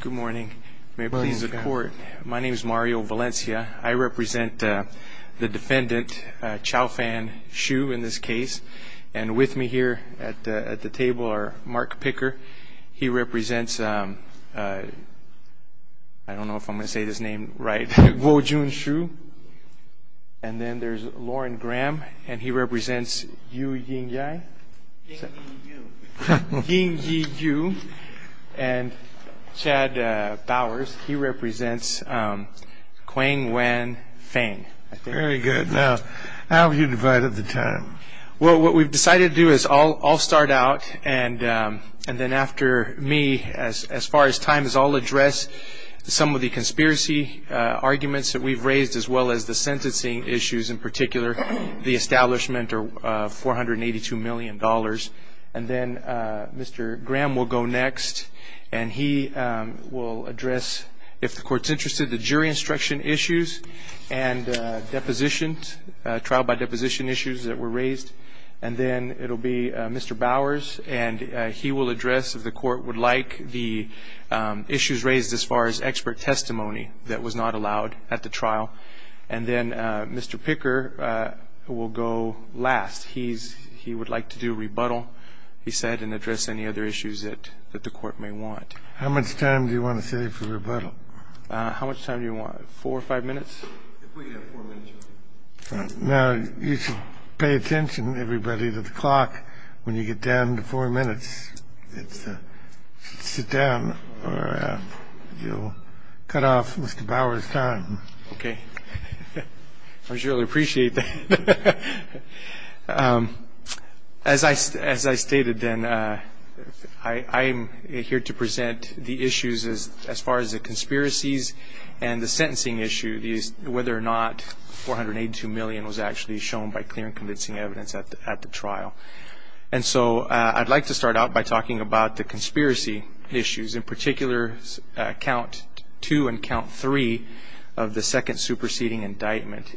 Good morning. May it please the court. My name is Mario Valencia. I represent the defendant, Chao Fan Xu in this case, and with me here at the table are Mark Picker. He represents, I don't know if I'm gonna say this name right, Guo Jun Xu, and then there's Lauren Graham, and he represents Yu Ying Yai, Ying Yi Yu, and Chad Bowers. He represents Quang Nguyen Phan. Very good. Now, how have you divided the time? Well, what we've decided to do is I'll start out, and then after me, as far as time is, I'll address some of the conspiracy arguments that we've raised, as well as the sentencing issues in particular, the establishment of $482 million, and then Mr. Graham will go next, and he will address, if the court's interested, the jury instruction issues and depositions, trial by deposition issues that were raised, and then it'll be Mr. Bowers, and he will address, if the court would like, the issues raised as far as expert last. He would like to do rebuttal, he said, and address any other issues that the court may want. How much time do you want to save for rebuttal? How much time do you want? Four or five minutes? Now, you should pay attention, everybody, to the clock when you get down to four minutes. Sit down, or you'll cut off Mr. Bowers' time. Okay. I really appreciate that. As I stated, then, I'm here to present the issues as far as the conspiracies and the sentencing issue, whether or not $482 million was actually shown by clear and convincing evidence at the trial, and so I'd like to start out by talking about the conspiracy issues, in the second superseding indictment.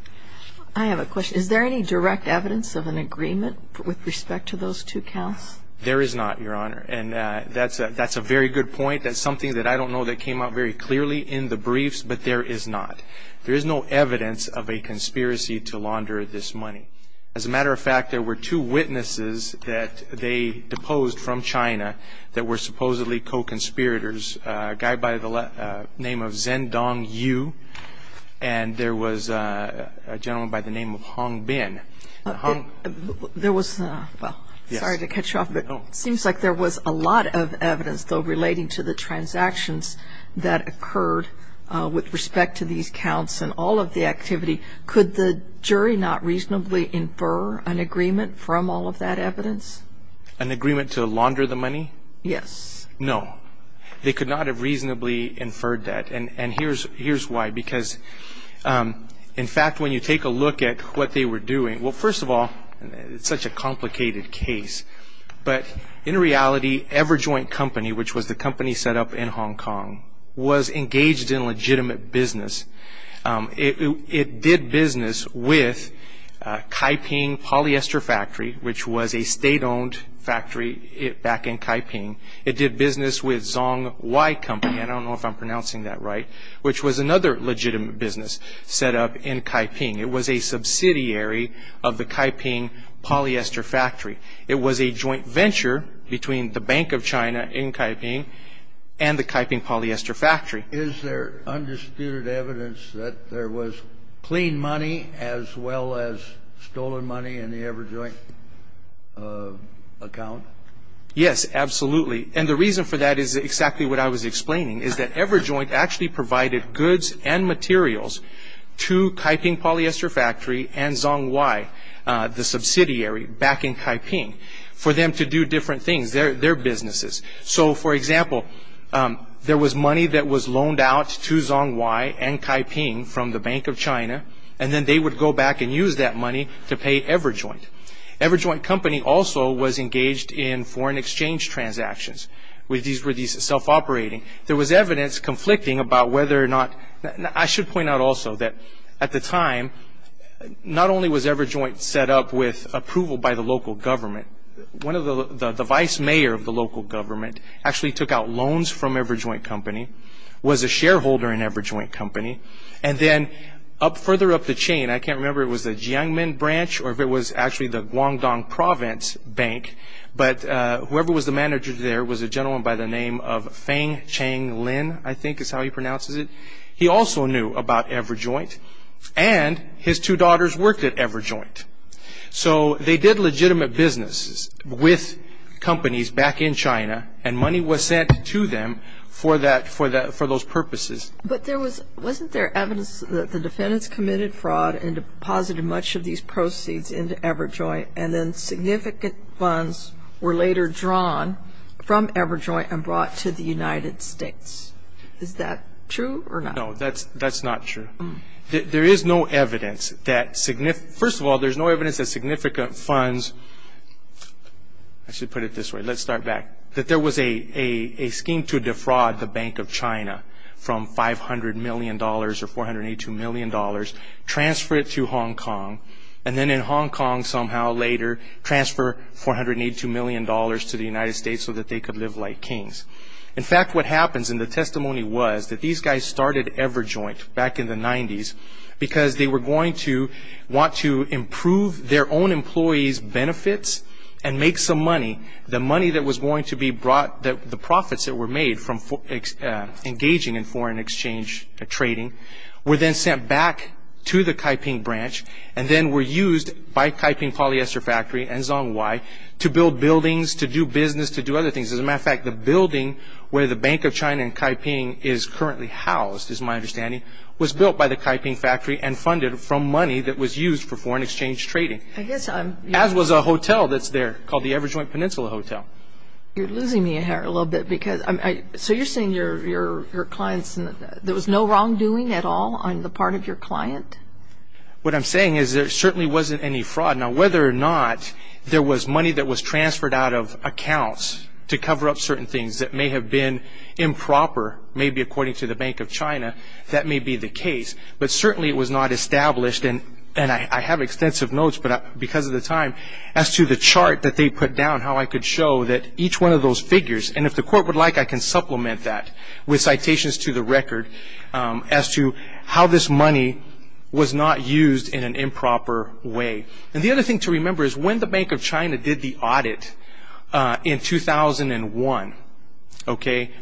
I have a question. Is there any direct evidence of an agreement with respect to those two counts? There is not, Your Honor, and that's a very good point. That's something that I don't know that came out very clearly in the briefs, but there is not. There is no evidence of a conspiracy to launder this money. As a matter of fact, there were two witnesses that they deposed from China that were supposedly co-conspirators, a guy by the name of Hong Bin. There was, well, sorry to cut you off, but it seems like there was a lot of evidence, though, relating to the transactions that occurred with respect to these counts and all of the activity. Could the jury not reasonably infer an agreement from all of that evidence? An agreement to launder the money? Yes. No. They could not have reasonably inferred that, and here's why, because, in fact, when you take a look at what they were doing, well, first of all, it's such a complicated case, but in reality, Everjoint Company, which was the company set up in Hong Kong, was engaged in legitimate business. It did business with Kaiping Polyester Factory, which was a state-owned factory back in Kaiping. It did business with Zongwei Company, I don't know if I'm pronouncing that right, which was another legitimate business set up in Kaiping. It was a subsidiary of the Kaiping Polyester Factory. It was a joint venture between the Bank of China in Kaiping and the Kaiping Polyester Factory. Is there undisputed evidence that there was clean money as well as stolen money in the Everjoint account? Yes, absolutely, and the reason for that is exactly what I was explaining, is that Everjoint actually provided goods and materials to Kaiping Polyester Factory and Zongwei, the subsidiary back in Kaiping, for them to do different things, their businesses. So, for example, there was money that was loaned out to Zongwei and Kaiping from the Bank of China, and then they would go back and use that money to pay Everjoint. Everjoint Company also was engaged in There was evidence conflicting about whether or not, I should point out also that at the time, not only was Everjoint set up with approval by the local government, the vice mayor of the local government actually took out loans from Everjoint Company, was a shareholder in Everjoint Company, and then further up the chain, I can't remember if it was the Jiangmen Branch or if it was actually the Guangdong Province Bank, but whoever was the manager there was a gentleman by the name of Wang Lin, I think is how he pronounces it. He also knew about Everjoint, and his two daughters worked at Everjoint. So, they did legitimate businesses with companies back in China, and money was sent to them for those purposes. But wasn't there evidence that the defendants committed fraud and deposited much of these proceeds into Everjoint, and then significant funds were later drawn from Everjoint and brought to the United States? Is that true or not? No, that's not true. There is no evidence that, first of all, there's no evidence that significant funds, I should put it this way, let's start back, that there was a scheme to defraud the Bank of China from $500 million or $482 million, transfer it to Hong Kong, and then in Hong Kong somehow later, transfer $482 million to the United States so that they could live like kings. In fact, what happens in the testimony was that these guys started Everjoint back in the 90s because they were going to want to improve their own employees' benefits and make some money. The money that was going to be brought, the profits that were made from engaging in foreign exchange trading were then sent back to the Kaiping branch and then were used by Kaiping Polyester Factory and Zhonghuai to build buildings, to do business, to do other things. As a matter of fact, the building where the Bank of China and Kaiping is currently housed, is my understanding, was built by the Kaiping factory and funded from money that was used for foreign exchange trading, as was a hotel that's there called the Everjoint Peninsula Hotel. You're losing me a hair a little bit. So you're saying there was no wrongdoing at all on the part of your client? What I'm saying is there certainly wasn't any fraud. Now whether or not there was money that was transferred out of accounts to cover up certain things that may have been improper, maybe according to the Bank of China, that may be the case. But certainly it was not established, and I have extensive notes, but because of the time, as to the chart that they put down, how I could show that each one of those figures, and if the court would like, I to how this money was not used in an improper way. And the other thing to remember is when the Bank of China did the audit in 2001,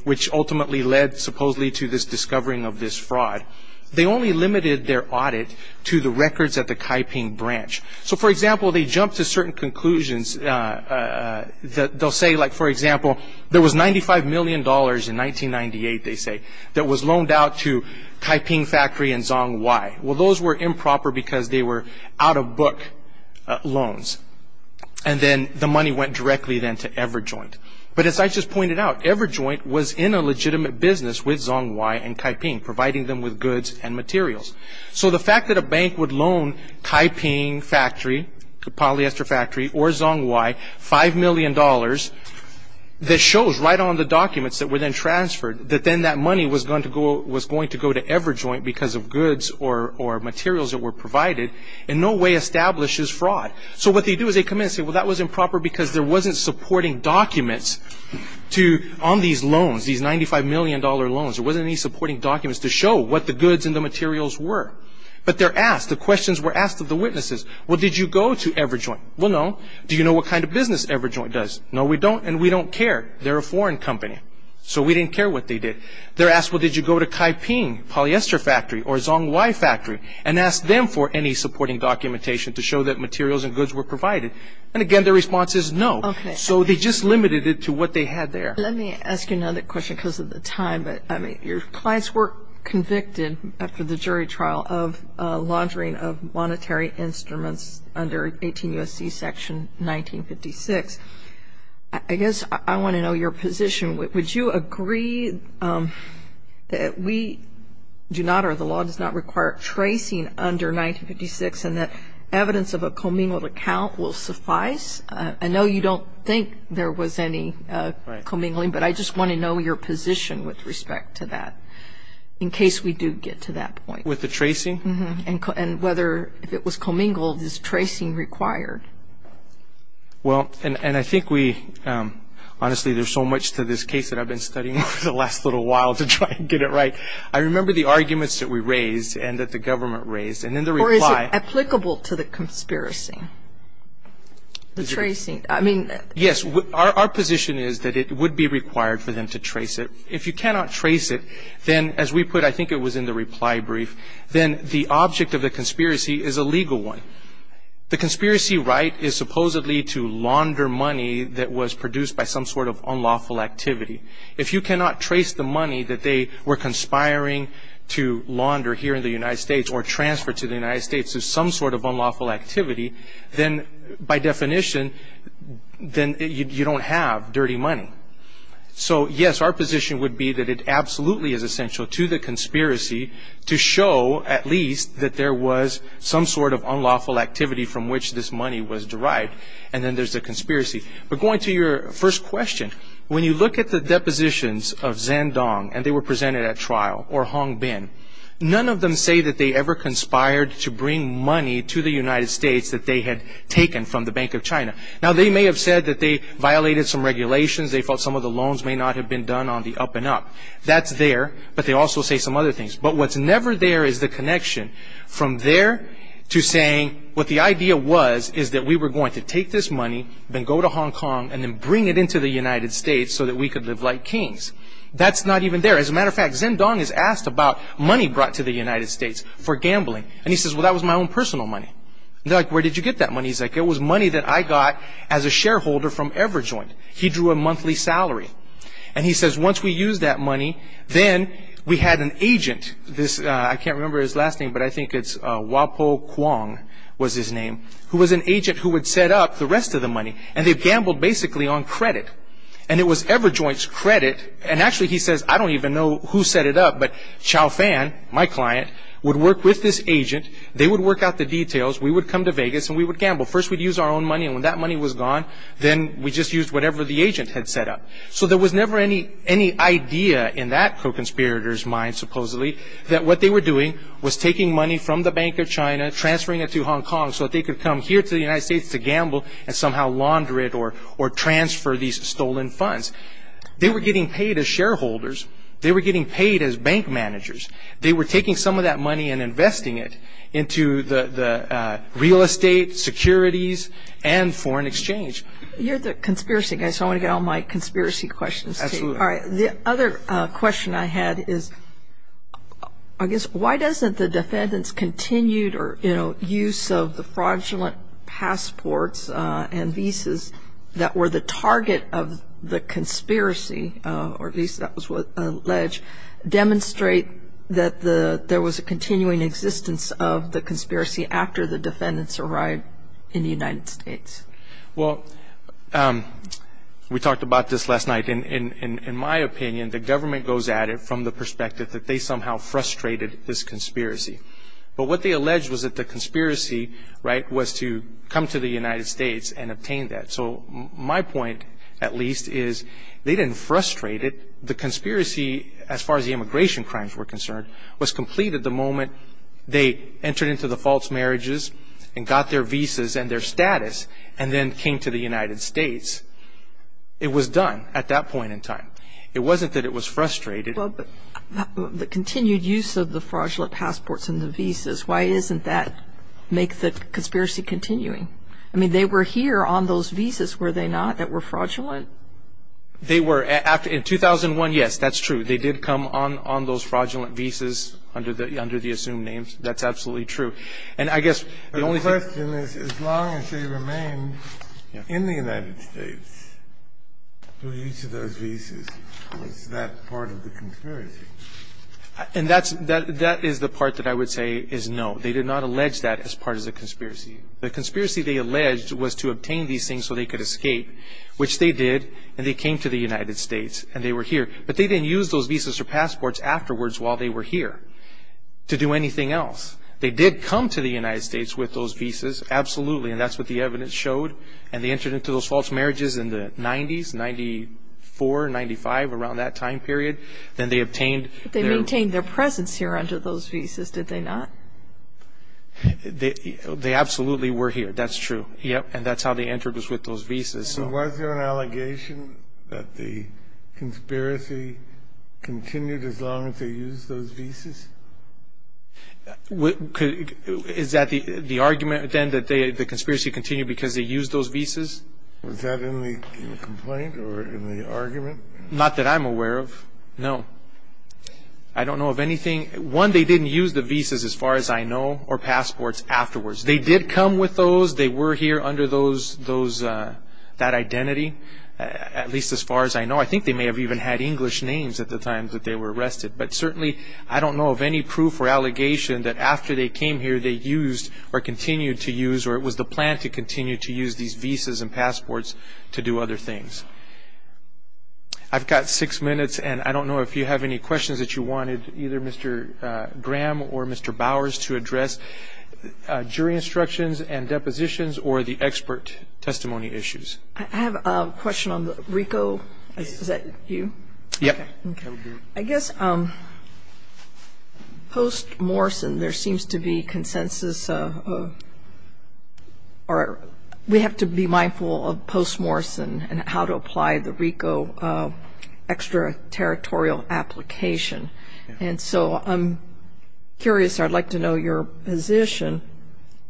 which ultimately led supposedly to this discovering of this fraud, they only limited their audit to the records at the Kaiping branch. So for example, they jumped to certain conclusions. They'll say, for example, there was $95 million in 1998, they say, that was loaned out to Kaiping Factory and Zhongwei. Well, those were improper because they were out-of-book loans. And then the money went directly then to EverJoint. But as I just pointed out, EverJoint was in a legitimate business with Zhongwei and Kaiping, providing them with goods and materials. So the fact that a bank would loan Kaiping Factory, the polyester factory, or Zhongwei $5 million, that shows right on the documents that were then transferred, that then that money was going to go to EverJoint because of goods or materials that were provided, in no way establishes fraud. So what they do is they come in and say, well, that was improper because there wasn't supporting documents on these loans, these $95 million loans. There wasn't any supporting documents to show what the goods and the materials were. But they're asked, the questions were asked of the witnesses. Well, did you go to EverJoint? Well, no. Do you know what kind of business EverJoint does? No, we didn't care what they did. They're asked, well, did you go to Kaiping Polyester Factory or Zhongwei Factory and ask them for any supporting documentation to show that materials and goods were provided? And again, their response is no. So they just limited it to what they had there. Let me ask you another question because of the time. But I mean, your clients were convicted after the jury trial of laundering of monetary instruments under 18 U.S.C. Section 1956. I guess I want to know your position. Would you agree that we do not or the law does not require tracing under 1956 and that evidence of a commingled account will suffice? I know you don't think there was any commingling, but I just want to know your position with respect to that in case we do get to that point. With the tracing? And whether if it was commingled, is tracing required? Well, and I think we, honestly, there's so much to this case that I've been studying over the last little while to try and get it right. I remember the arguments that we raised and that the government raised. And in the reply... Or is it applicable to the conspiracy? The tracing? I mean... Yes. Our position is that it would be required for them to trace it. If you cannot trace it, then as we put, I think it was in the reply brief, then the object of the conspiracy is a legal one. The conspiracy right is supposedly to launder money that was produced by some sort of unlawful activity. If you cannot trace the money that they were conspiring to launder here in the United States or transfer to the United States as some sort of unlawful activity, then by definition, then you don't have dirty money. So, yes, our position would be that it absolutely is essential to the conspiracy to show at least that there was some sort of unlawful activity from which this money was derived. And then there's a question. When you look at the depositions of Zhendong and they were presented at trial or Hongbin, none of them say that they ever conspired to bring money to the United States that they had taken from the Bank of China. Now, they may have said that they violated some regulations. They felt some of the loans may not have been done on the up and up. That's there, but they also say some other things. But what's never there is the connection from there to saying what the idea was is that we were going to take this money, then go to Hong Kong, and then bring it into the United States so that we could live like kings. That's not even there. As a matter of fact, Zhendong is asked about money brought to the United States for gambling. And he says, well, that was my own personal money. They're like, where did you get that money? He's like, it was money that I got as a shareholder from EverJoint. He drew a monthly salary. And he says, once we used that money, then we had an agent. I can't remember his last name, but I think it's Guopo Kuang was his name, who was an agent who would set up the rest of the money. And they've gambled basically on credit. And it was EverJoint's credit. And actually, he says, I don't even know who set it up, but Chaofan, my client, would work with this agent. They would work out the details. We would come to Vegas, and we would gamble. First, we'd use our own money. And when that money was gone, then we just used whatever the agent had set up. So there was never any idea in that co-conspirator's mind, supposedly, that what they were doing was taking money from the Bank of China, transferring it to Hong Kong, so that they could come here to the United States to gamble and somehow launder it or transfer these stolen funds. They were getting paid as shareholders. They were getting paid as bank managers. They were taking some of that money and investing it into the real estate, securities, and foreign exchange. You're the conspiracy guy, so I want to get all my conspiracy questions. Absolutely. All right. The other question I had is, I guess, why doesn't the defendant's continued use of the fraudulent passports and visas that were the target of the conspiracy, or at least that was alleged, demonstrate that there was a continuing existence of the conspiracy after the defendants arrived in the United States? Well, we talked about this last night. In my opinion, the government goes at it from the perspective that they somehow frustrated this conspiracy. But what they alleged was that the conspiracy, right, was to come to the United States and obtain that. So my point, at least, is they didn't frustrate it. The conspiracy, as far as the immigration crimes were concerned, was complete at the moment they entered into the false marriages and got their visas and their status and then came to the United States. It was done at that point in time. It wasn't that it was frustrated. Well, but the continued use of the fraudulent passports and the visas, why isn't that make the conspiracy continuing? I mean, they were here on those visas, were they not, that were fraudulent? They were. In 2001, yes, that's true. They did come on those fraudulent visas under the assumed names. That's absolutely true. And I guess the only thing- But the question is, as long as they remained in the United States through each of those visas, was that part of the conspiracy? And that is the part that I would say is no. They did not allege that as part of the conspiracy. The conspiracy they alleged was to obtain these things so they could escape, which they did, and they came to the United States, and they were here. But they didn't use those visas or passports afterwards while they were here to do anything else. They did come to the United States with those visas, absolutely, and that's what the evidence showed. And they entered into those false marriages in the 90s, 94, 95, around that time period. Then they obtained their- But they maintained their presence here under those visas, did they not? They absolutely were here, that's true. Yep, and that's how they entered was with those visas. So was there an allegation that the conspiracy continued as long as they used those visas? Is that the argument then that the conspiracy continued because they used those visas? Was that in the complaint or in the argument? Not that I'm aware of, no. I don't know of anything. One, they didn't use the visas as far as I know, or passports afterwards. They did come with those, they were here under that identity, at least as far as I know. I think they may have even had English names at the time that they were arrested. But certainly, I don't know of any proof or allegation that after they came here, they used or continued to use, or it was the plan to continue to use these visas and passports to do other things. I've got six minutes, and I don't know if you have any questions that you wanted, either Mr. Graham or Mr. Bowers, to address jury instructions and depositions or the expert testimony issues. I have a question on the RICO, is that you? Yep. I guess post-Morrison, there seems to be consensus, or we have to be mindful of post-Morrison and how to apply the RICO extraterritorial application. And so I'm curious, I'd like to know your position.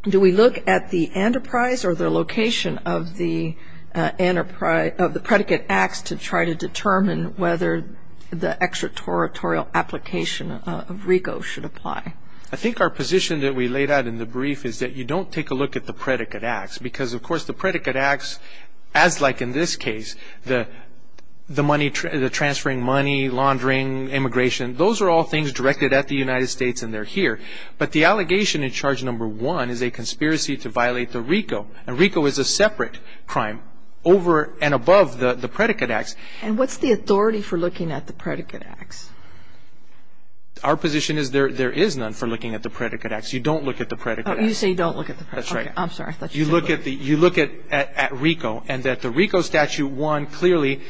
Do we look at the enterprise or the location of the predicate acts to try to determine whether the extraterritorial application of RICO should apply? I think our position that we laid out in the brief is that you don't take a look at the predicate acts, because of course the predicate acts, as like in this case, the transferring money, laundering, immigration, those are all things directed at the United States and they're here. But the allegation in charge number one is a conspiracy to violate the RICO, and the predicate acts. And what's the authority for looking at the predicate acts? Our position is there is none for looking at the predicate acts. You don't look at the predicate acts. You say you don't look at the predicate acts. That's right. I'm sorry. You look at RICO, and that the RICO statute one clearly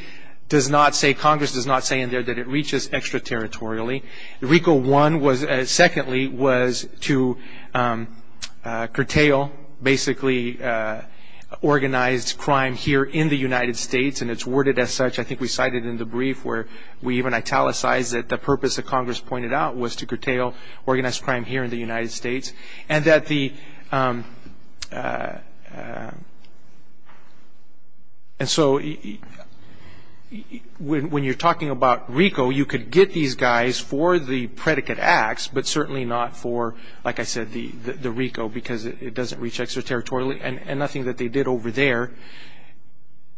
does not say, Congress does not say in there that it reaches extraterritorially. RICO one was, secondly, was to curtail, basically, organized crime here in the United States, and it's worded as such. I think we cited in the brief where we even italicized that the purpose that Congress pointed out was to curtail organized crime here in the United States. And so, when you're talking about RICO, you could get these guys for the predicate acts, but certainly not for, like I said, the RICO, because it doesn't reach extraterritorially, and nothing that they did over there.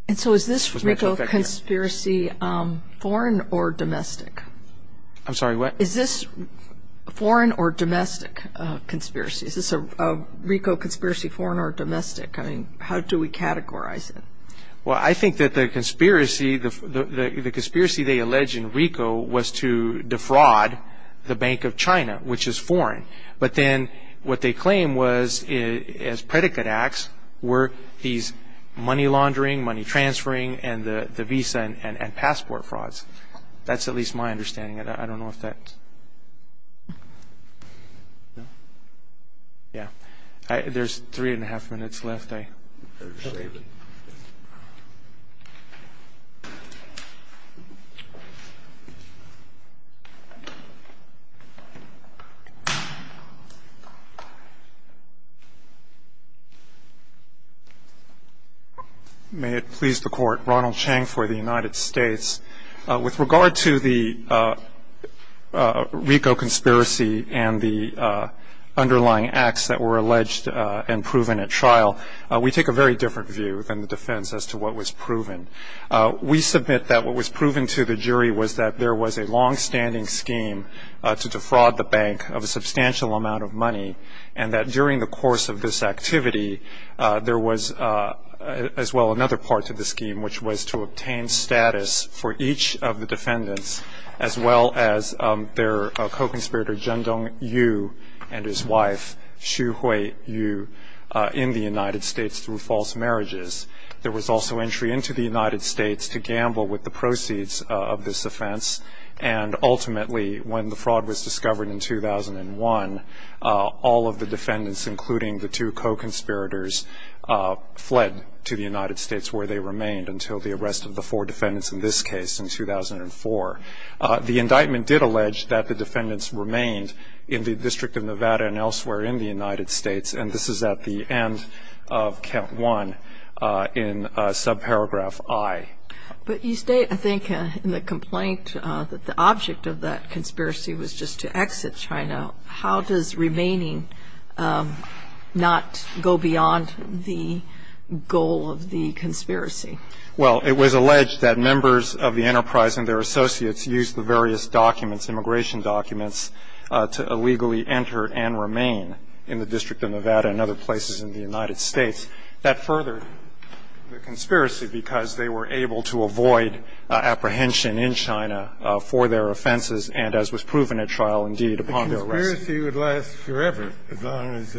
And so, is this RICO conspiracy foreign or domestic? I'm sorry, what? Is this foreign or domestic conspiracy? Is this a RICO conspiracy foreign or domestic? I mean, how do we categorize it? Well, I think that the conspiracy they allege in RICO was to defraud the Bank of China, which is foreign. But then, what they claim was, as predicate acts, were these money laundering, money transferring, and the visa and passport frauds. That's at least my understanding of that. I don't know if that, yeah. There's three and a half minutes left. Okay. May it please the court. Ronald Chang for the United States. With regard to the RICO conspiracy and the underlying acts that were alleged and proven at trial, we take a very different view than the defense as to what was proven. We submit that what was proven to the jury was that there was a longstanding scheme to defraud the bank of a substantial amount of money. And that during the course of this activity, there was, as well, another part to the scheme, which was to obtain status for each of the defendants, as well as their co-conspirator, Zhendong Yu, and his wife, Xuhui Yu, in the United States through false marriages. There was also entry into the United States to gamble with the proceeds of this offense, and ultimately, when the fraud was discovered in 2001, all of the defendants, including the two co-conspirators, fled to the United States where they remained until the arrest of the four The indictment did allege that the defendants remained in the District of Nevada and elsewhere in the United States, and this is at the end of count one in subparagraph I. But you state, I think, in the complaint that the object of that conspiracy was just to exit China, how does remaining not go beyond the goal of the conspiracy? Well, it was alleged that members of the enterprise and their associates used the various documents, immigration documents, to illegally enter and remain in the District of Nevada and other places in the United States. That furthered the conspiracy because they were able to avoid apprehension in China for their offenses, and as was proven at trial, indeed, upon their arrest. The conspiracy would last forever as long as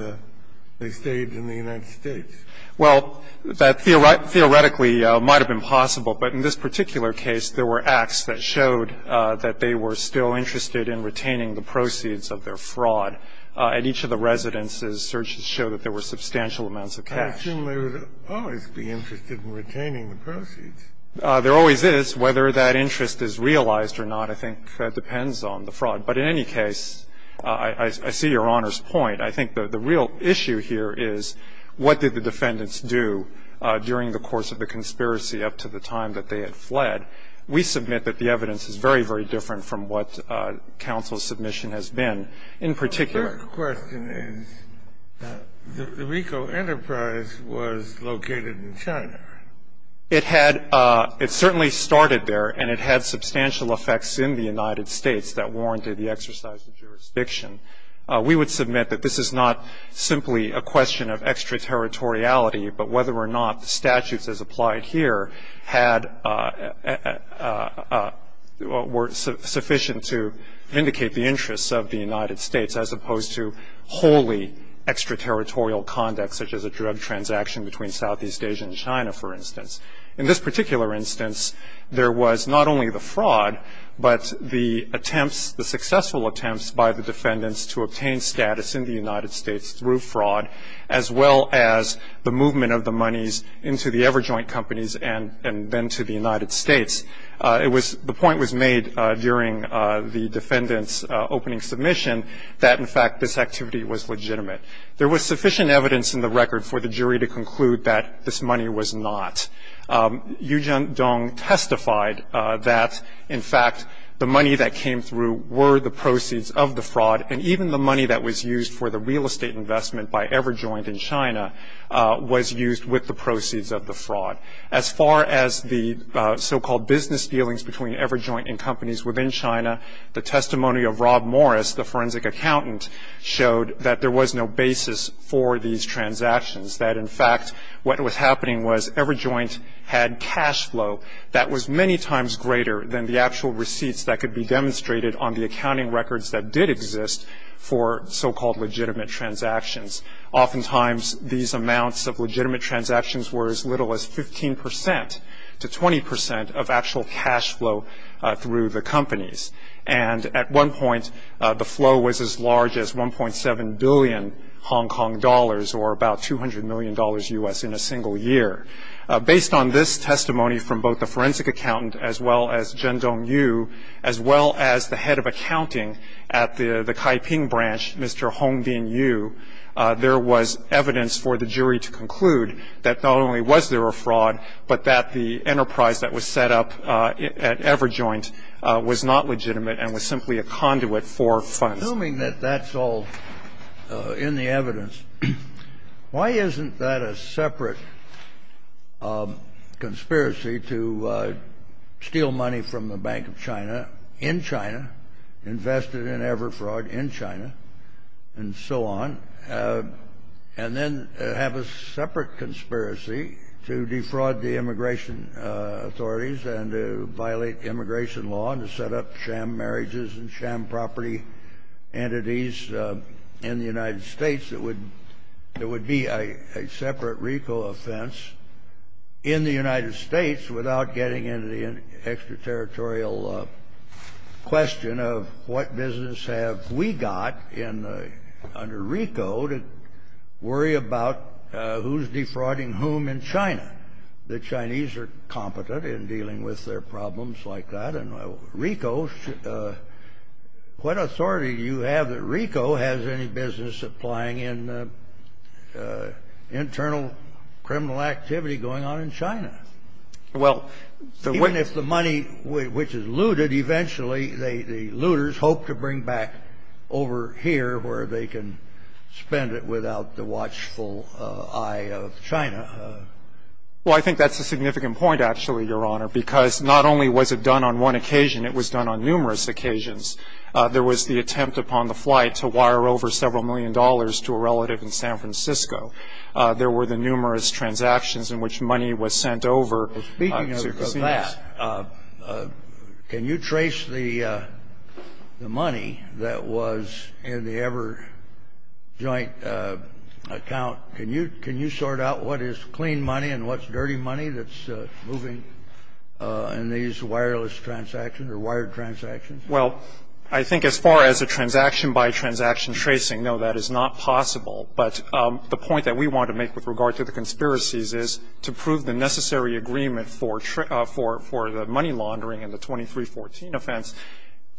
they stayed in the United States. Well, that theoretically might have been possible, but in this particular case, there were acts that showed that they were still interested in retaining the proceeds of their fraud. At each of the residences, searches show that there were substantial amounts of cash. I assume they would always be interested in retaining the proceeds. There always is. Whether that interest is realized or not, I think, depends on the fraud. But in any case, I see Your Honor's point. I think the real issue here is, what did the defendants do during the course of the conspiracy up to the time that they had fled? We submit that the evidence is very, very different from what counsel's submission has been. In particular- The question is that the Rico Enterprise was located in China. It had, it certainly started there, and it had substantial effects in the United States that warranted the exercise of jurisdiction. We would submit that this is not simply a question of extraterritoriality, but whether or not the statutes as applied here had, were sufficient to vindicate the interests of the United States, as opposed to wholly extraterritorial conduct, such as a drug transaction between Southeast Asia and China, for instance. In this particular instance, there was not only the fraud, but the attempts, the successful attempts by the defendants to obtain status in the United States through fraud, as well as the movement of the monies into the EverJoint companies and then to the United States. It was, the point was made during the defendant's opening submission, that in fact, this activity was legitimate. There was sufficient evidence in the record for the jury to conclude that this money was not. Yu Dong testified that, in fact, the money that came through were the proceeds of the fraud. And even the money that was used for the real estate investment by EverJoint in China was used with the proceeds of the fraud. As far as the so-called business dealings between EverJoint and companies within China, the testimony of Rob Morris, the forensic accountant, showed that there was no basis for these transactions. That, in fact, what was happening was EverJoint had cash flow that was many times greater than the actual receipts that could be demonstrated on the accounting records that did exist for so-called legitimate transactions. Oftentimes, these amounts of legitimate transactions were as little as 15% to 20% of actual cash flow through the companies. And at one point, the flow was as large as 1.7 billion Hong Kong dollars, or about $200 million U.S. in a single year. Based on this testimony from both the forensic accountant, as well as Chen Dong-Yu, as well as the head of accounting at the Kaiping branch, Mr. Hongbin Yu, there was evidence for the jury to conclude that not only was there a fraud, but that the enterprise that was set up at EverJoint was not legitimate and was simply a conduit for funds. Assuming that that's all in the evidence, why isn't that a separate conspiracy to steal money from the Bank of China in China, invested in EverFraud in China, and so on, and then have a separate conspiracy to defraud the immigration authorities and to violate immigration law and set up sham marriages and sham property entities in the United States? It would be a separate RICO offense in the United States without getting into the extraterritorial question of what business have we got under RICO to worry about who's defrauding whom in China? The Chinese are competent in dealing with their problems like that, and RICO, what authority do you have that RICO has any business applying in the internal criminal activity going on in China? Well, the one that's the money which is looted, eventually, the looters hope to bring back over here where they can spend it without the watchful eye of China. Well, I think that's a significant point, actually, Your Honor, because not only was it done on one occasion, it was done on numerous occasions. There was the attempt upon the flight to wire over several million dollars to a relative in San Francisco. There were the numerous transactions in which money was sent over. Speaking of that, can you trace the money that was in the EverJoint account? Can you sort out what is clean money and what's dirty money that's moving around in the EverJoint account? And can you trace the money that's being looted in these wireless transactions or wired transactions? Well, I think as far as a transaction-by-transaction tracing, no, that is not possible. But the point that we want to make with regard to the conspiracies is, to prove the necessary agreement for the money laundering and the 2314 offense,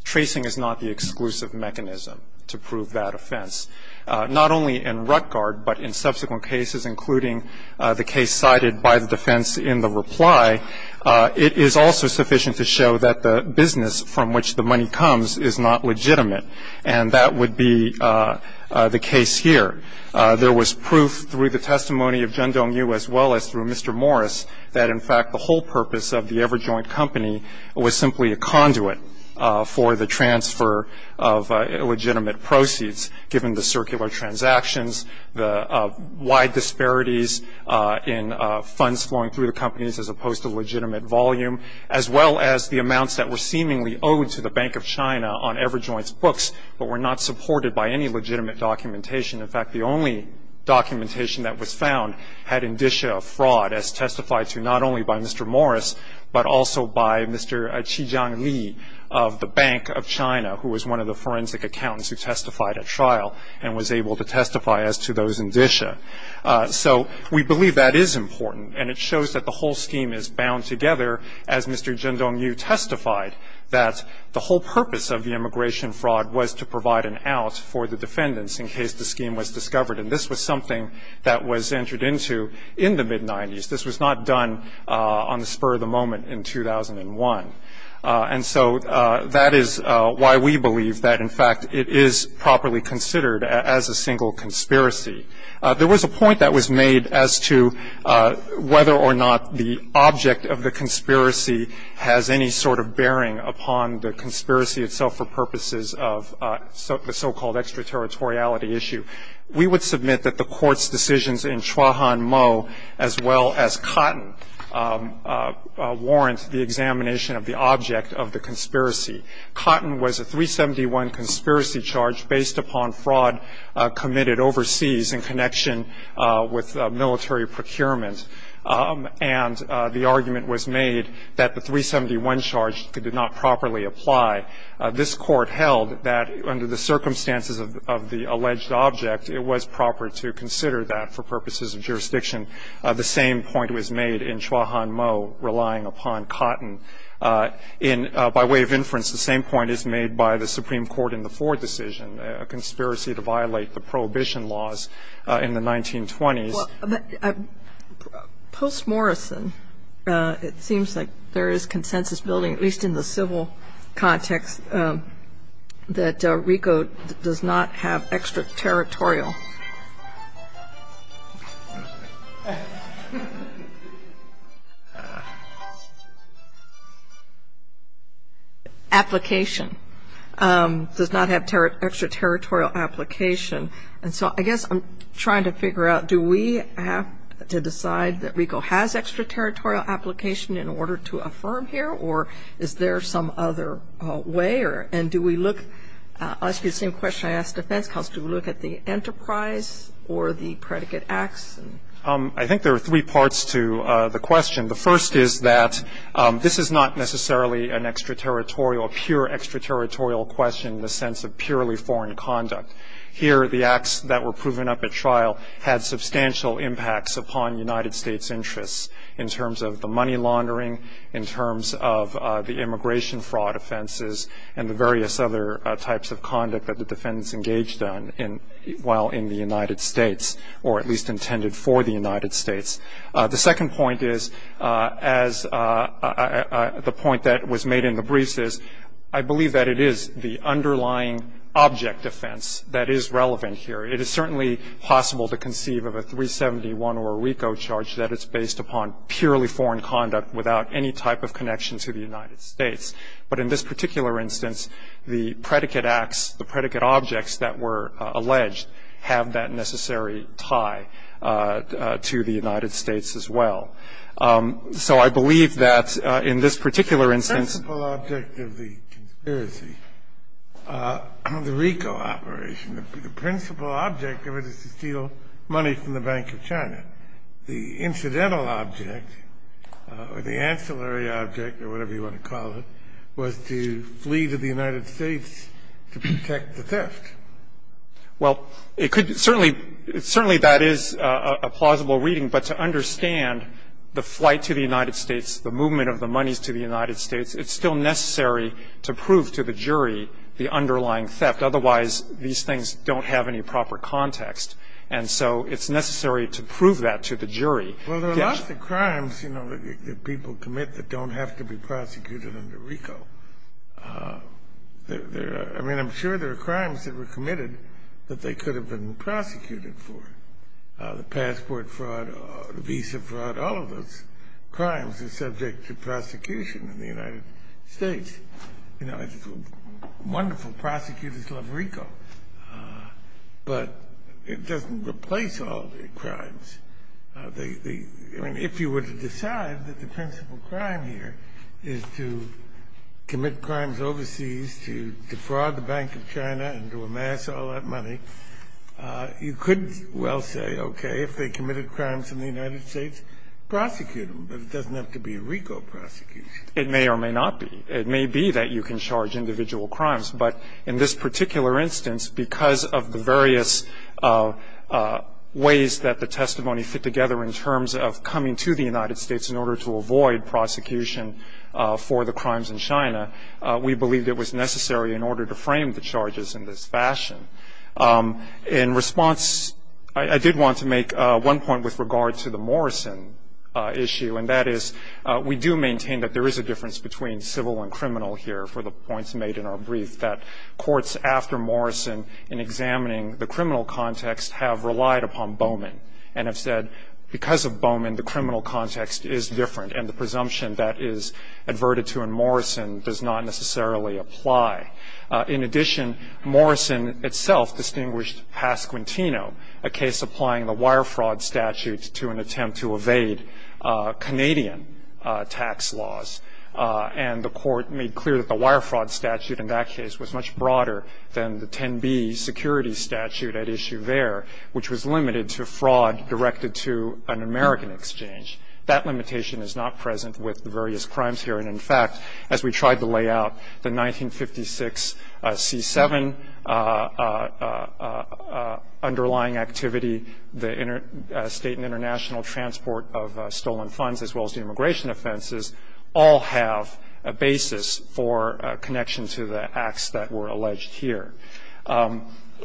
tracing is not the exclusive mechanism to prove that offense. Not only in Rutgard, but in subsequent cases, including the case cited by the defense in the reply, it is also sufficient to show that the business from which the money comes is not legitimate. And that would be the case here. There was proof through the testimony of Chen Dongyu as well as through Mr. Morris that, in fact, the whole purpose of the EverJoint company was simply a conduit for the transfer of legitimate proceeds, given the circular transactions, the wide disparities in funds flowing through the companies as opposed to legitimate volume, as well as the amounts that were seemingly owed to the Bank of China on EverJoint's books, but were not supported by any legitimate documentation. In fact, the only documentation that was found had indicia of fraud as testified to not only by Mr. Morris, but also by Mr. Qi Jiangli of the Bank of China, who was one of the forensic accountants who testified at trial and was able to testify as to those indicia. So we believe that is important, and it shows that the whole scheme is bound together, as Mr. Chen Dongyu testified, that the whole purpose of the immigration fraud was to provide an out for the defendants in case the scheme was discovered. And this was something that was entered into in the mid-'90s. This was not done on the spur of the moment in 2001. And so that is why we believe that, in fact, it is properly considered as a single conspiracy. There was a point that was made as to whether or not the object of the conspiracy has any sort of bearing upon the conspiracy itself for purposes of the so-called extraterritoriality issue. We would submit that the Court's decisions in Chua Han Mo as well as Cotton warrant the examination of the object of the conspiracy. Cotton was a 371 conspiracy charge based upon fraud committed overseas in connection with military procurement. And the argument was made that the 371 charge did not properly apply. This Court held that under the circumstances of the alleged object, it was proper to consider that for purposes of jurisdiction. The same point was made in Chua Han Mo, relying upon Cotton. In, by way of inference, the same point is made by the Supreme Court in the Ford decision, a conspiracy to violate the Prohibition laws in the 1920s. Well, post-Morrison, it seems like there is consensus building, at least in the context that RICO does not have extraterritorial application, does not have extraterritorial application. And so I guess I'm trying to figure out, do we have to decide that RICO has extraterritorial application in order to affirm here, or is there some other way? And do we look, I'll ask you the same question I asked defense counsel, do we look at the enterprise or the predicate acts? I think there are three parts to the question. The first is that this is not necessarily an extraterritorial, pure extraterritorial question in the sense of purely foreign conduct. Here, the acts that were proven up at trial had substantial impacts upon United States interests in terms of the money laundering, in terms of the immigration fraud offenses, and the various other types of conduct that the defendants engaged in while in the United States, or at least intended for the United States. The second point is, as the point that was made in the briefs is, I believe that it is the underlying object offense that is relevant here. It is certainly possible to conceive of a 371 or a RICO charge that it's based upon purely foreign conduct without any type of connection to the United States. But in this particular instance, the predicate acts, the predicate objects that were alleged, have that necessary tie to the United States as well. So I believe that in this particular instance- Object of it is to steal money from the Bank of China. The incidental object, or the ancillary object, or whatever you want to call it, was to flee to the United States to protect the theft. Well, it could certainly, certainly that is a plausible reading. But to understand the flight to the United States, the movement of the monies to the United States, it's still necessary to prove to the jury the underlying theft. Otherwise, these things don't have any proper context. And so it's necessary to prove that to the jury. Well, there are lots of crimes, you know, that people commit that don't have to be prosecuted under RICO. There are, I mean, I'm sure there are crimes that were committed that they could have been prosecuted for. The passport fraud, the visa fraud, all of those crimes are subject to prosecution in the United States. You know, wonderful prosecutors love RICO. But it doesn't replace all the crimes. I mean, if you were to decide that the principal crime here is to commit crimes overseas, to defraud the Bank of China, and to amass all that money, you could well say, okay, if they committed crimes in the United States, prosecute them. But it doesn't have to be a RICO prosecution. It may or may not be. It may be that you can charge individual crimes. But in this particular instance, because of the various ways that the testimony fit together in terms of coming to the United States in order to avoid prosecution for the crimes in China, we believed it was necessary in order to frame the charges in this fashion. In response, I did want to make one point with regard to the Morrison issue. And that is, we do maintain that there is a difference between civil and criminal here, for the points made in our brief, that courts after Morrison in examining the criminal context have relied upon Bowman. And have said, because of Bowman, the criminal context is different. And the presumption that is adverted to in Morrison does not necessarily apply. In addition, Morrison itself distinguished Pasquantino, a case applying the wire fraud statute to an attempt to evade Canadian tax laws. And the court made clear that the wire fraud statute in that case was much broader than the 10B security statute at issue there, which was limited to fraud directed to an American exchange. That limitation is not present with the various crimes here. And in fact, as we tried to lay out, the 1956 C-7 underlying activity. The state and international transport of stolen funds, as well as the immigration offenses, all have a basis for a connection to the acts that were alleged here.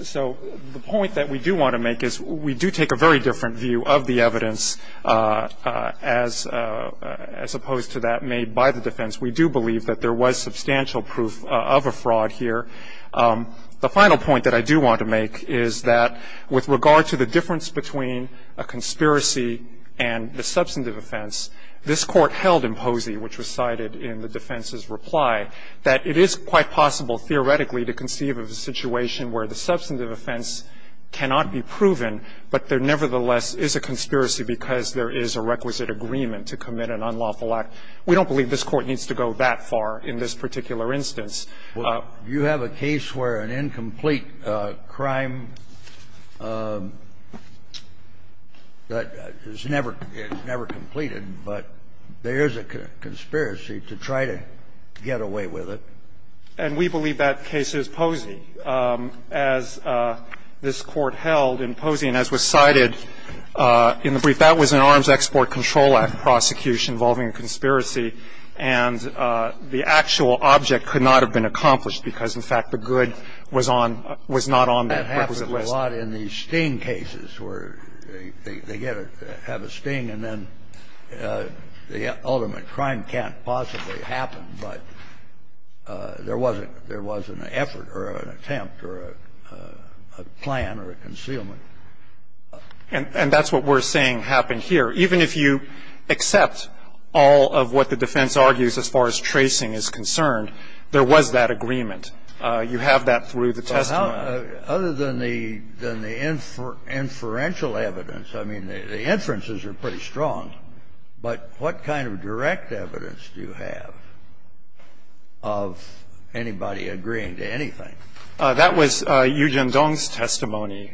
So the point that we do want to make is, we do take a very different view of the evidence as opposed to that made by the defense. We do believe that there was substantial proof of a fraud here. The final point that I do want to make is that, with regard to the difference between a conspiracy and the substantive offense. This court held in Posey, which was cited in the defense's reply, that it is quite possible theoretically to conceive of a situation where the substantive offense cannot be proven, but there nevertheless is a conspiracy because there is a requisite agreement to commit an unlawful act. We don't believe this Court needs to go that far in this particular instance. Scalia, you have a case where an incomplete crime that is never, it's never completed, but there is a conspiracy to try to get away with it. And we believe that case is Posey. As this Court held in Posey, and as was cited in the brief, that was an Arms Export Control Act prosecution involving a conspiracy, and the actual object could not have been accomplished because, in fact, the good was on the requisite list. That happens a lot in these sting cases where they get a sting and then the ultimate crime can't possibly happen, but there was an effort or an attempt or a plan or a concealment. And that's what we're saying happened here. Even if you accept all of what the defense argues as far as tracing is concerned, there was that agreement. You have that through the testimony. Other than the inferential evidence, I mean, the inferences are pretty strong. But what kind of direct evidence do you have of anybody agreeing to anything? That was Yu Zhendong's testimony.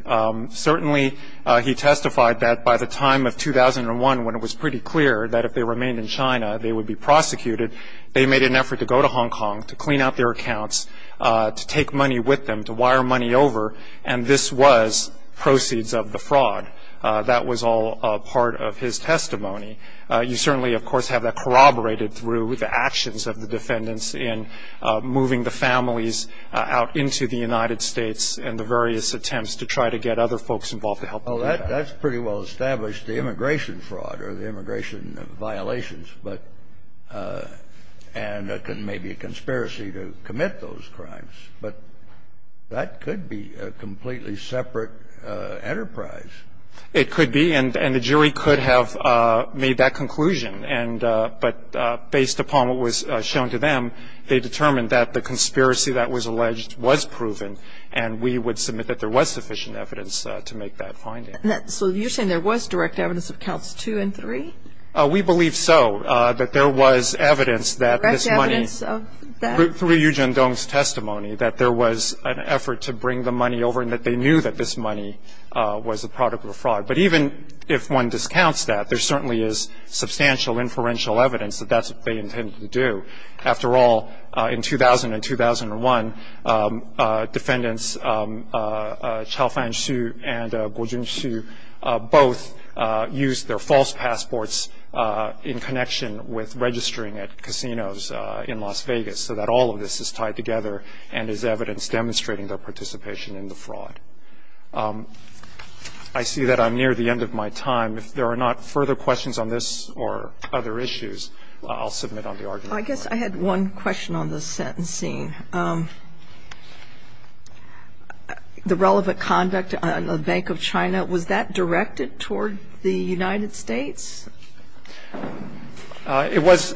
Certainly, he testified that by the time of 2001, when it was pretty clear that if they remained in China, they would be prosecuted, they made an effort to go to Hong Kong to clean out their accounts, to take money with them, to wire money over, and this was proceeds of the fraud. That was all part of his testimony. You certainly, of course, have that corroborated through the actions of the defendants in moving the families out into the United States and the various attempts to try to get other folks involved to help them do that. That's pretty well established, the immigration fraud or the immigration violations, but and maybe a conspiracy to commit those crimes. But that could be a completely separate enterprise. It could be, and the jury could have made that conclusion. And but based upon what was shown to them, they determined that the conspiracy that was alleged was proven, and we would submit that there was sufficient evidence to make that finding. So you're saying there was direct evidence of counts two and three? We believe so, that there was evidence that this money, through Yu Zhendong's testimony, that there was an effort to bring the money over and that they knew that this money was a product of a fraud. But even if one discounts that, there certainly is substantial inferential evidence that that's what they intended to do. After all, in 2000 and 2001, defendants Chao Fanxu and Guo Junxu both used their false passports in connection with registering at casinos in Las Vegas, so that all of this is tied together and is evidence demonstrating their participation in the fraud. I see that I'm near the end of my time. If there are not further questions on this or other issues, I'll submit on the argument. I guess I had one question on the sentencing. The relevant conduct on the Bank of China, was that directed toward the United States? It was.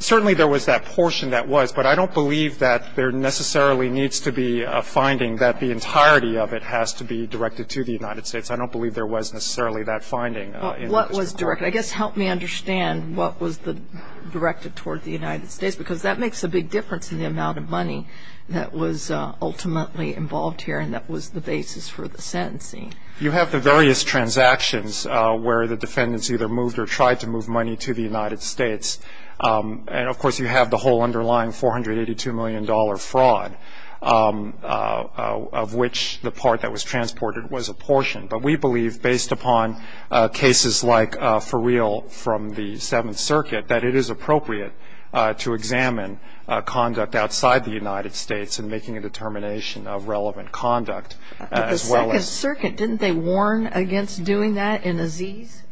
Certainly there was that portion that was, but I don't believe that there necessarily needs to be a finding that the entirety of it has to be directed to the United States. I don't believe there was necessarily that finding. What was directed? I guess help me understand what was directed toward the United States, because that makes a big difference in the amount of money that was ultimately involved here and that was the basis for the sentencing. You have the various transactions where the defendants either moved or tried to move money to the United States, and of course you have the whole underlying $482 million fraud, of which the part that was transported was a portion. But we believe, based upon cases like Fereal from the Seventh Circuit, that it is appropriate to examine conduct outside the United States in making a determination of relevant conduct, as well as- The Second Circuit, didn't they warn against doing that in Aziz?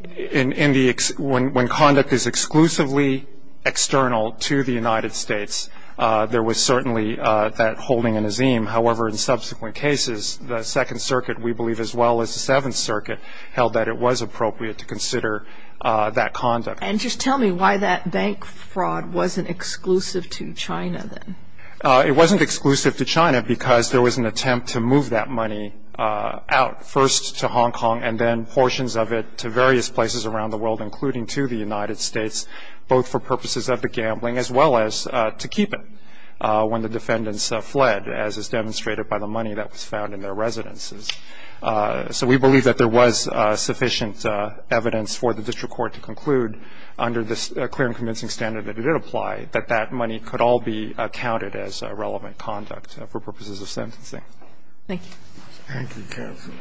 When conduct is exclusively external to the United States, there was certainly that holding in Azim. However, in subsequent cases, the Second Circuit, we believe as well as the Seventh Circuit, held that it was appropriate to consider that conduct. And just tell me why that bank fraud wasn't exclusive to China then. It wasn't exclusive to China because there was an attempt to move that money out, first to Hong Kong and then portions of it to various places around the world, including to the United States, both for purposes of the gambling as well as to keep it when the defendants fled, as is demonstrated by the money that was found in their residences. So we believe that there was sufficient evidence for the district court to conclude, under this clear and convincing standard that it applied, that that money could all be counted as relevant conduct for purposes of sentencing. Thank you. Thank you, counsel.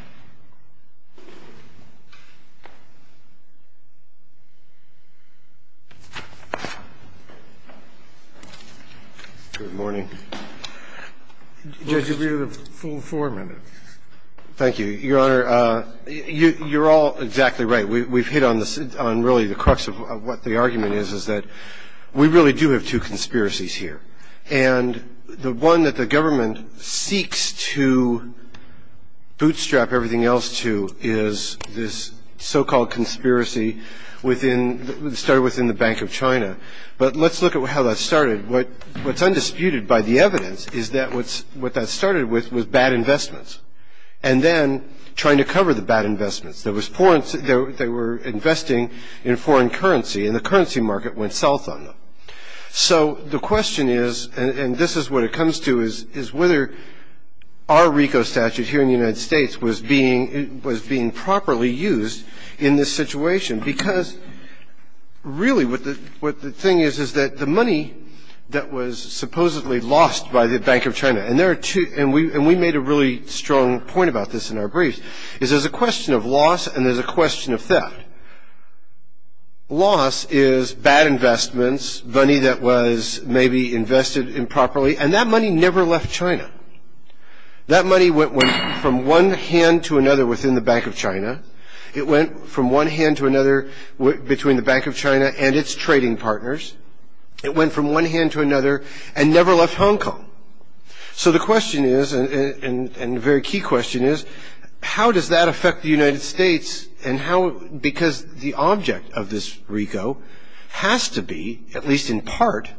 Good morning. Judge, you'll be here the full four minutes. Thank you, Your Honor. You're all exactly right. We've hit on really the crux of what the argument is, is that we really do have two conspiracies here. And the one that the government seeks to bootstrap everything else to is this so-called conspiracy within, started within the Bank of China. But let's look at how that started. What's undisputed by the evidence is that what that started with was bad investments, and then trying to cover the bad investments. There was foreign, they were investing in foreign currency, and the currency market went south on them. So the question is, and this is what it comes to, is whether our RICO statute here in the United States was being properly used in this situation. Because really what the thing is, is that the money that was supposedly lost by the Bank of China, and we made a really strong point about this in our brief, is there's a question of loss and there's a question of theft. And loss is bad investments, money that was maybe invested improperly, and that money never left China. That money went from one hand to another within the Bank of China. It went from one hand to another between the Bank of China and its trading partners. It went from one hand to another and never left Hong Kong. So the question is, and a very key question is, how does that affect the United States and how, because the object of this RICO has to be, at least in part,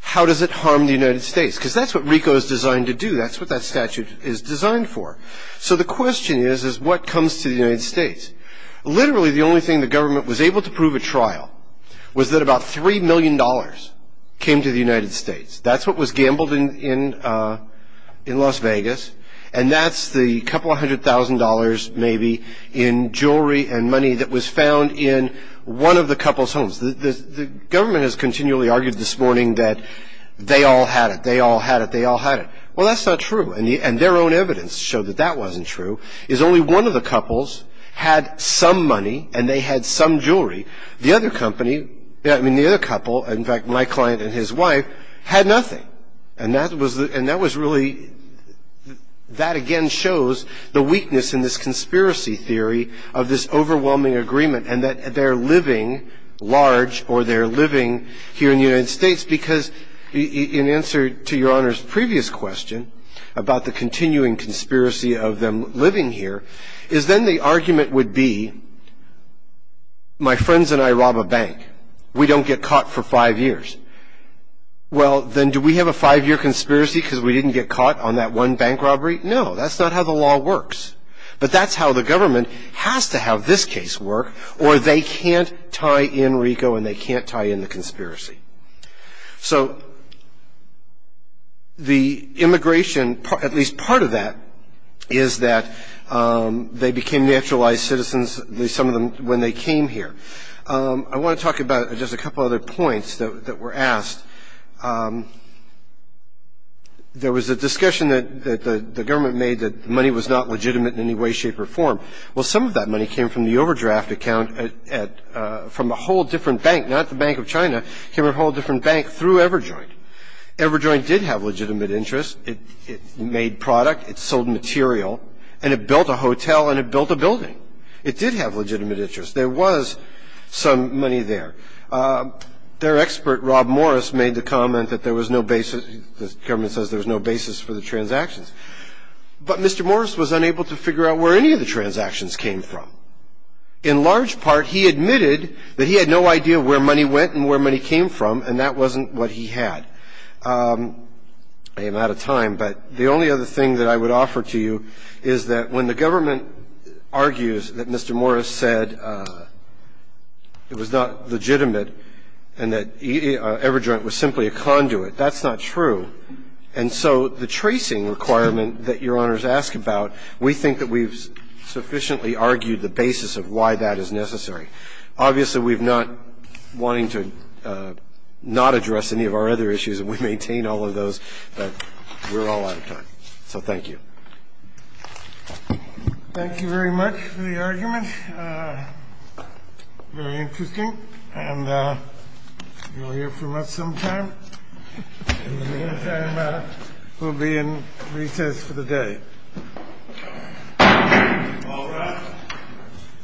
how does it harm the United States? Because that's what RICO is designed to do. That's what that statute is designed for. So the question is, is what comes to the United States? Literally the only thing the government was able to prove at trial was that about $3 million came to the United States. That's what was gambled in Las Vegas, and that's the couple hundred thousand dollars maybe in jewelry and money that was found in one of the couple's homes. The government has continually argued this morning that they all had it, they all had it, they all had it. Well, that's not true, and their own evidence showed that that wasn't true, is only one of the couples had some money and they had some jewelry. The other company, I mean, the other couple, in fact, my client and his wife, had nothing. And that was really, that again shows the weakness in this conspiracy theory of this overwhelming agreement and that they're living large or they're living here in the United States because in answer to Your Honor's previous question about the continuing and I rob a bank, we don't get caught for five years, well, then do we have a five-year conspiracy because we didn't get caught on that one bank robbery? No, that's not how the law works. But that's how the government has to have this case work, or they can't tie in RICO and they can't tie in the conspiracy. So the immigration, at least part of that, is that they became naturalized citizens, some of them, when they came here. I want to talk about just a couple other points that were asked. There was a discussion that the government made that money was not legitimate in any way, shape, or form. Well, some of that money came from the overdraft account from a whole different bank, not the Bank of China, came from a whole different bank through EverJoint. EverJoint did have legitimate interest. It made product, it sold material, and it built a hotel and it built a building. It did have legitimate interest. There was some money there. Their expert, Rob Morris, made the comment that there was no basis, the government says there was no basis for the transactions. But Mr. Morris was unable to figure out where any of the transactions came from. In large part, he admitted that he had no idea where money went and where money came from, and that wasn't what he had. I am out of time, but the only other thing that I would offer to you is that when the government argues that Mr. Morris said it was not legitimate and that EverJoint was simply a conduit, that's not true. And so the tracing requirement that Your Honors ask about, we think that we've sufficiently argued the basis of why that is necessary. Obviously, we've not wanted to not address any of our other issues, and we maintain all of those, but we're all out of time. So thank you. Thank you very much for the argument. Very interesting, and you'll hear from us sometime. In the meantime, we'll be in recess for the day. All rise.